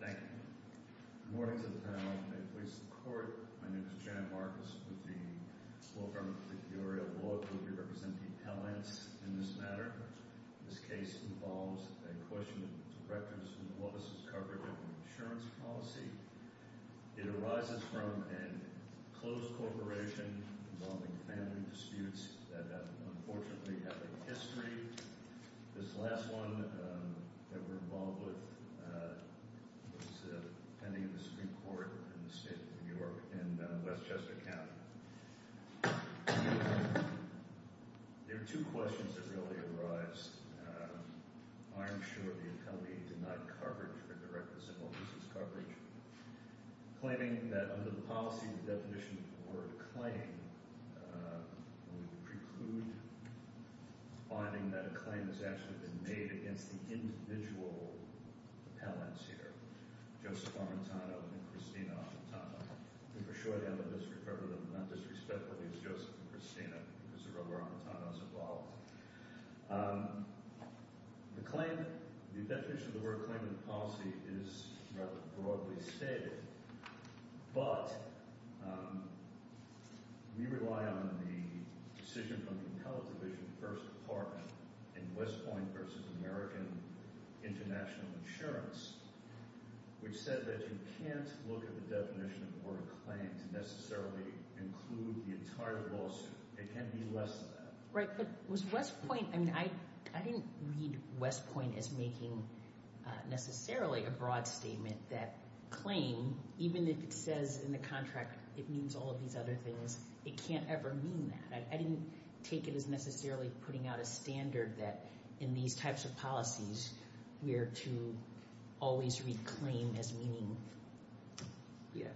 Thank you. Good morning to the panel and to the police and the court. My name is Jan Marcus with the Law Firm of the Peoria Law Group. We represent the appellants in this matter. This case involves a question of records from the office's coverage of an insurance policy. It arises from a closed corporation involving family disputes that unfortunately have a history. This last one that we're involved with was pending in the Supreme Court in the state of New York in Westchester County. There are two questions that really arise. First, Ironshore, the appellee, denied coverage for direct or simple business coverage, claiming that under the policy, the definition of the word claim would preclude finding that a claim has actually been made against the individual appellants here, Joseph Armitano and Christina Armitano. And for sure they have a misrepresentation, not disrespectfully, of Joseph and Christina because of where Armitano is involved. The claim, the definition of the word claim in the policy is rather broadly stated, but we rely on the decision from the Appellate Division, the First Department, in West Point v. American International Insurance, which says that you can't look at the definition of the word claim to necessarily include the entire lawsuit. It can be less than that. Right, but was West Point, I mean, I didn't read West Point as making necessarily a broad statement that claim, even if it says in the contract it means all of these other things, it can't ever mean that. I didn't take it as necessarily putting out a standard that in these types of policies we are to always read claim as meaning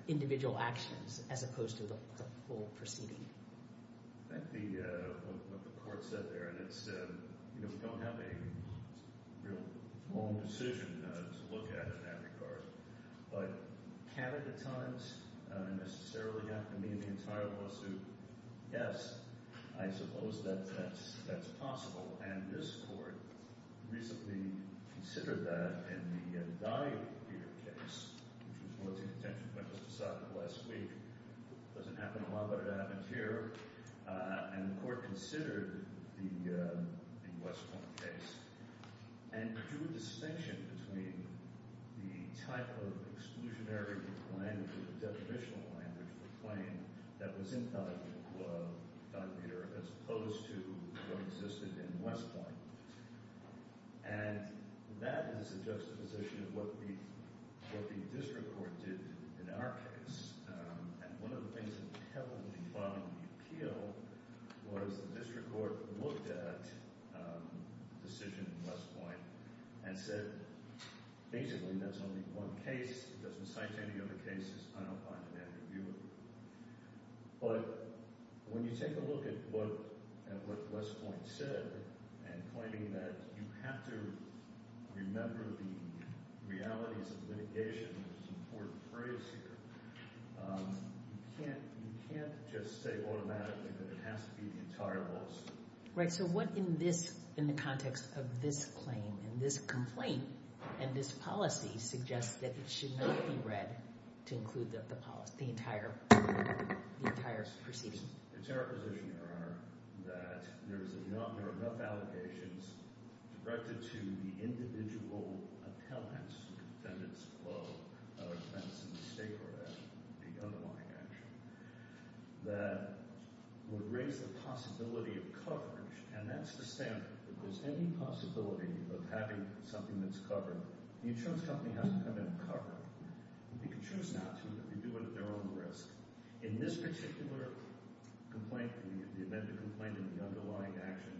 individual actions as opposed to the whole proceeding. I think what the court said there, and we don't have a real long decision to look at in that regard, but can it at times necessarily have to mean the entire lawsuit? Yes, I suppose that that's possible, and this court recently considered that in the Daniel Peter case, which was brought to the attention of Mr. Sutton last week. It doesn't happen a lot, but it happened here, and the court considered the West Point case and drew a distinction between the type of exclusionary language, the deprivational language for claim that was in Daniel Peter as opposed to what existed in West Point. And that is a juxtaposition of what the district court did in our case, and one of the things that heavily bombed the appeal was the district court looked at the decision in West Point and said, basically, that's only one case. It doesn't cite any other cases. I don't find it adequate. But when you take a look at what West Point said and claiming that you have to remember the realities of litigation, which is an important phrase here, you can't just say automatically that it has to be the entire lawsuit. Right, so what in the context of this claim and this complaint and this policy suggests that it should not be read to include the entire proceeding? It's our position, Your Honor, that there are enough allegations directed to the individual attendance, defendant's flow of offense in the state court action, the underlying action, that would raise the possibility of coverage. And that's the standard. If there's any possibility of having something that's covered, the insurance company has to come in and cover it. They can choose not to, but they do it at their own risk. In this particular complaint, the amended complaint and the underlying action,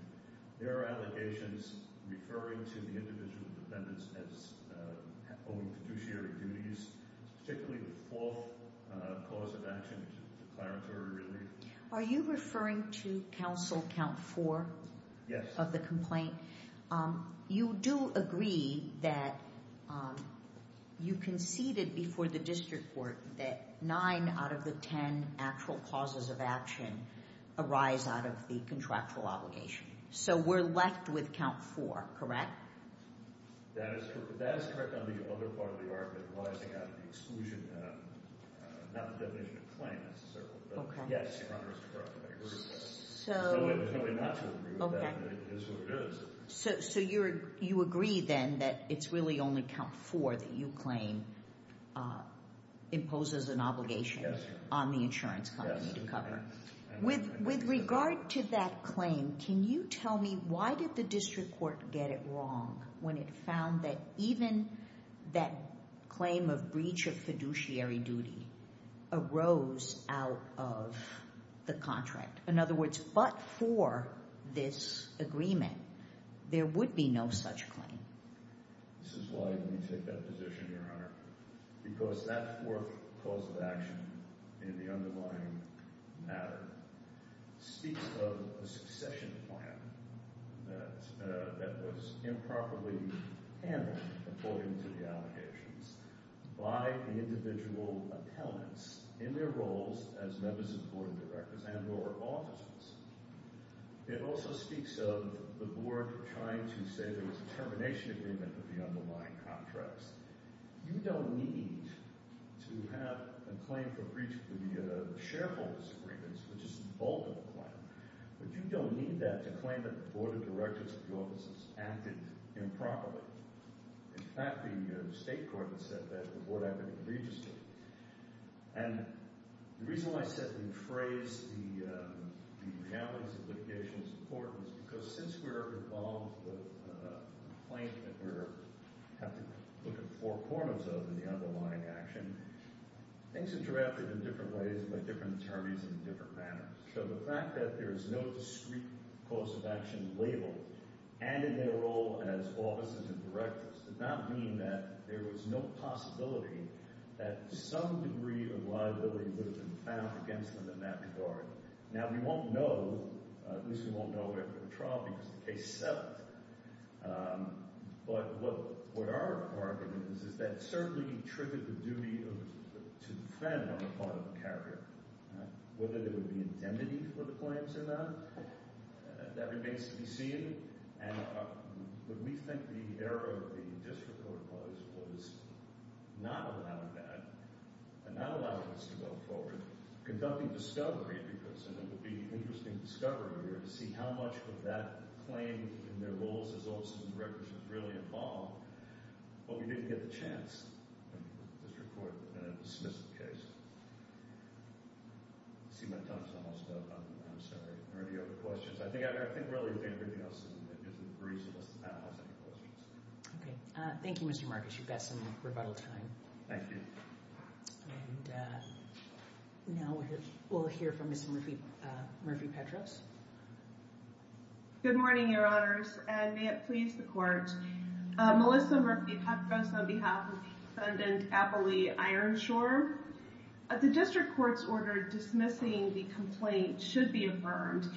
there are allegations referring to the individual defendants as owing fiduciary duties, particularly the fourth cause of action, declaratory relief. Are you referring to counsel count four? Yes. You do agree that you conceded before the district court that nine out of the ten actual causes of action arise out of the contractual obligation. So we're left with count four, correct? That is correct. That is correct on the other part of the argument arising out of the exclusion, not the definition of claim, necessarily. Yes, Your Honor, it's correct. I agree with that. There's no way not to agree with that. It is what it is. So you agree, then, that it's really only count four that you claim imposes an obligation on the insurance company to cover. With regard to that claim, can you tell me why did the district court get it wrong when it found that even that claim of breach of fiduciary duty arose out of the contract? In other words, but for this agreement, there would be no such claim. This is why we take that position, Your Honor, because that fourth cause of action in the underlying matter speaks of a succession plan that was improperly handled, according to the allegations, by the individual appellants in their roles as members of the board of directors and or officers. It also speaks of the board trying to say there was a termination agreement of the underlying contracts. You don't need to have a claim for breach of the shareholder's agreements, which is the bulk of the claim, but you don't need that to claim that the board of directors and officers acted improperly. In fact, the state court has said that the board acted illegally. And the reason why I said we phrase the realities of litigation as important is because since we're involved with a claim that we have to look at four corners of in the underlying action, things are drafted in different ways by different attorneys in different matters. So the fact that there is no discrete cause of action labeled and in their role as officers and directors does not mean that there was no possibility that some degree of liability would have been found against them in that regard. Now, we won't know, at least we won't know after the trial, because the case settled. But what our argument is is that certainly triggered the duty to defend on the part of the carrier, whether there would be indemnity for the claims or not, that remains to be seen. And what we think the error of the district court was was not allowing that and not allowing us to go forward, conducting discovery because it would be interesting discovery here to see how much of that claim in their roles as officers and directors is really involved. But we didn't get the chance. The district court dismissed the case. I see my time is almost up. I'm sorry. Are there any other questions? I think I think really everything else is reasonable. OK. Thank you, Mr. Marcus. You've got some rebuttal time. Thank you. And now we'll hear from Mr. Murphy Petros. Good morning, Your Honors. And may it please the court. Melissa Murphy Petros on behalf of the defendant, Apolli Ironshore. The district court's order dismissing the complaint should be affirmed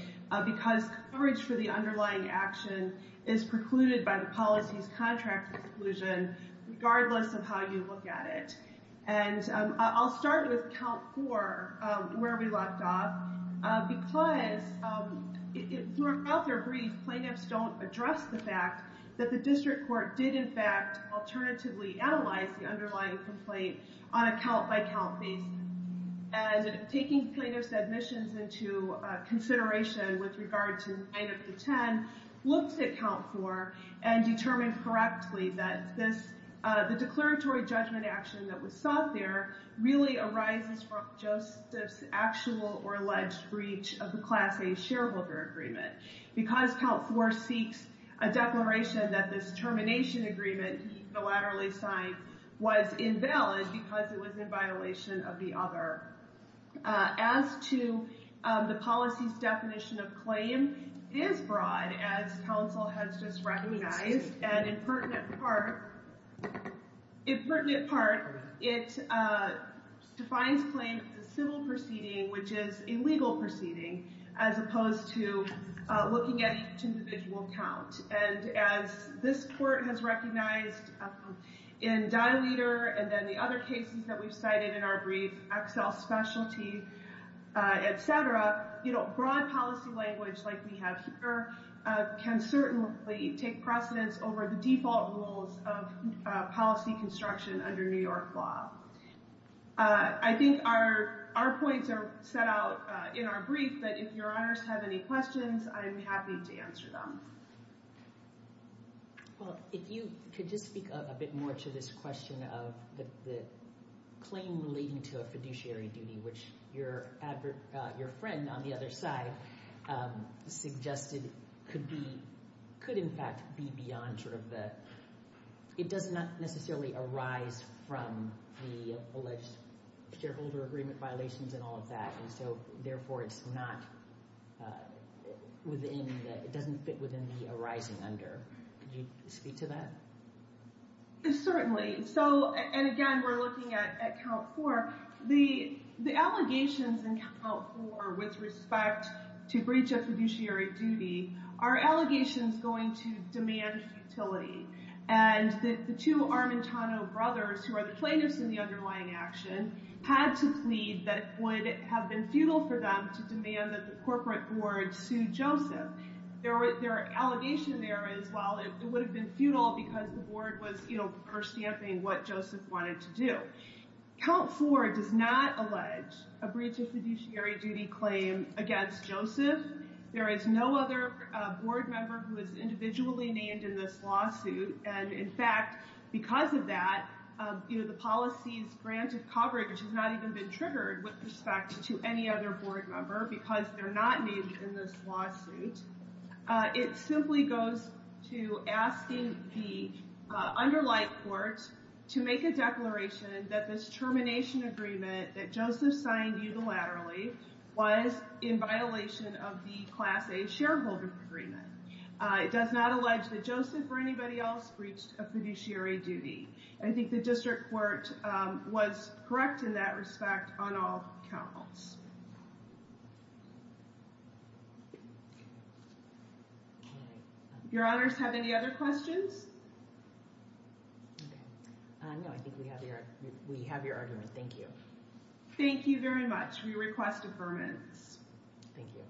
because coverage for the underlying action is precluded by the policy's contract exclusion, regardless of how you look at it. And I'll start with count four, where we left off, because throughout their brief, plaintiffs don't address the fact that the district court did, in fact, alternatively analyze the underlying complaint on a count by count basis. And taking plaintiff's admissions into consideration with regard to 9 of the 10, looked at count four and determined correctly that the declaratory judgment action that was sought there really arises from Joseph's actual or alleged breach of the Class A shareholder agreement. Because count four seeks a declaration that this termination agreement he unilaterally signed was invalid because it was in violation of the other. As to the policy's definition of claim, it is broad, as counsel has just recognized. And in pertinent part, it defines claim as a civil proceeding, which is a legal proceeding, as opposed to looking at each individual count. And as this court has recognized in Dileter and then the other cases that we've cited in our brief, Excel Specialty, et cetera, broad policy language like we have here can certainly take precedence over the default rules of policy construction under New York law. I think our points are set out in our brief, but if your honors have any questions, I'm happy to answer them. Well, if you could just speak a bit more to this question of the claim relating to a fiduciary duty, which your friend on the other side suggested could be, could in fact be beyond sort of the, it does not necessarily arise from the alleged shareholder agreement violations and all of that. And so therefore it's not within, it doesn't fit within the arising under. Could you speak to that? Certainly. So, and again, we're looking at count four. The allegations in count four with respect to breach of fiduciary duty are allegations going to demand futility. And the two Armentano brothers, who are the plaintiffs in the underlying action, had to plead that it would have been futile for them to demand that the corporate board sue Joseph. Their allegation there is, well, it would have been futile because the board was, you know, first stamping what Joseph wanted to do. Count four does not allege a breach of fiduciary duty claim against Joseph. There is no other board member who is individually named in this lawsuit. And in fact, because of that, you know, the policies granted coverage has not even been triggered with respect to any other board member because they're not named in this lawsuit. It simply goes to asking the underlying court to make a declaration that this termination agreement that Joseph signed unilaterally was in violation of the Class A shareholder agreement. It does not allege that Joseph or anybody else breached a fiduciary duty. I think the district court was correct in that respect on all counts. Your Honors, have any other questions? No, I think we have your argument. Thank you. Thank you very much. We request advertisement. Thank you.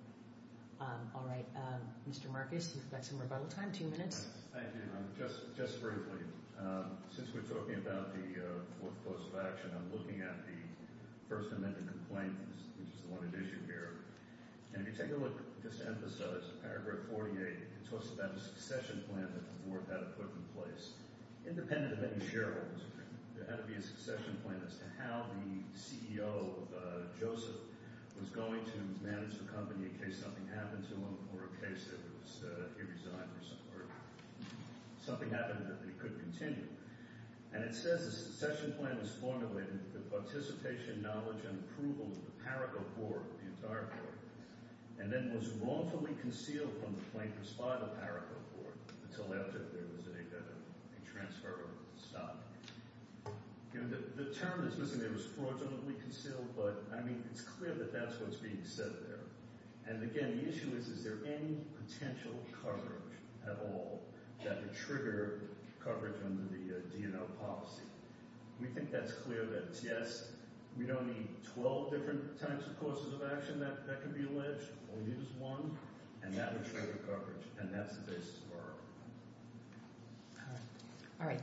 All right. Mr. Marcus, you've got some rebuttal time, two minutes. Thank you. Just briefly, since we're talking about the fourth course of action, I'm looking at the First Amendment complaint, which is the one in issue here. And if you take a look, just to emphasize, paragraph 48, it talks about a succession plan that the board had to put in place. Independent of any shareholders, there had to be a succession plan as to how the CEO, Joseph, was going to manage the company in case something happened to him or in case he resigned or something happened that he could continue. And it says the succession plan was formulated with the participation, knowledge, and approval of the PARACO board, the entire board, and then was wrongfully concealed from the plaintiffs by the PARACO board until after there was a transfer of the stock. The term is missing. It was fraudulently concealed. But, I mean, it's clear that that's what's being said there. And, again, the issue is, is there any potential coverage at all that would trigger coverage under the DNL policy? We think that's clear that it's yes. We don't need 12 different types of courses of action that could be alleged. We'll use one. And that would trigger coverage. And that's the basis of our argument. All right.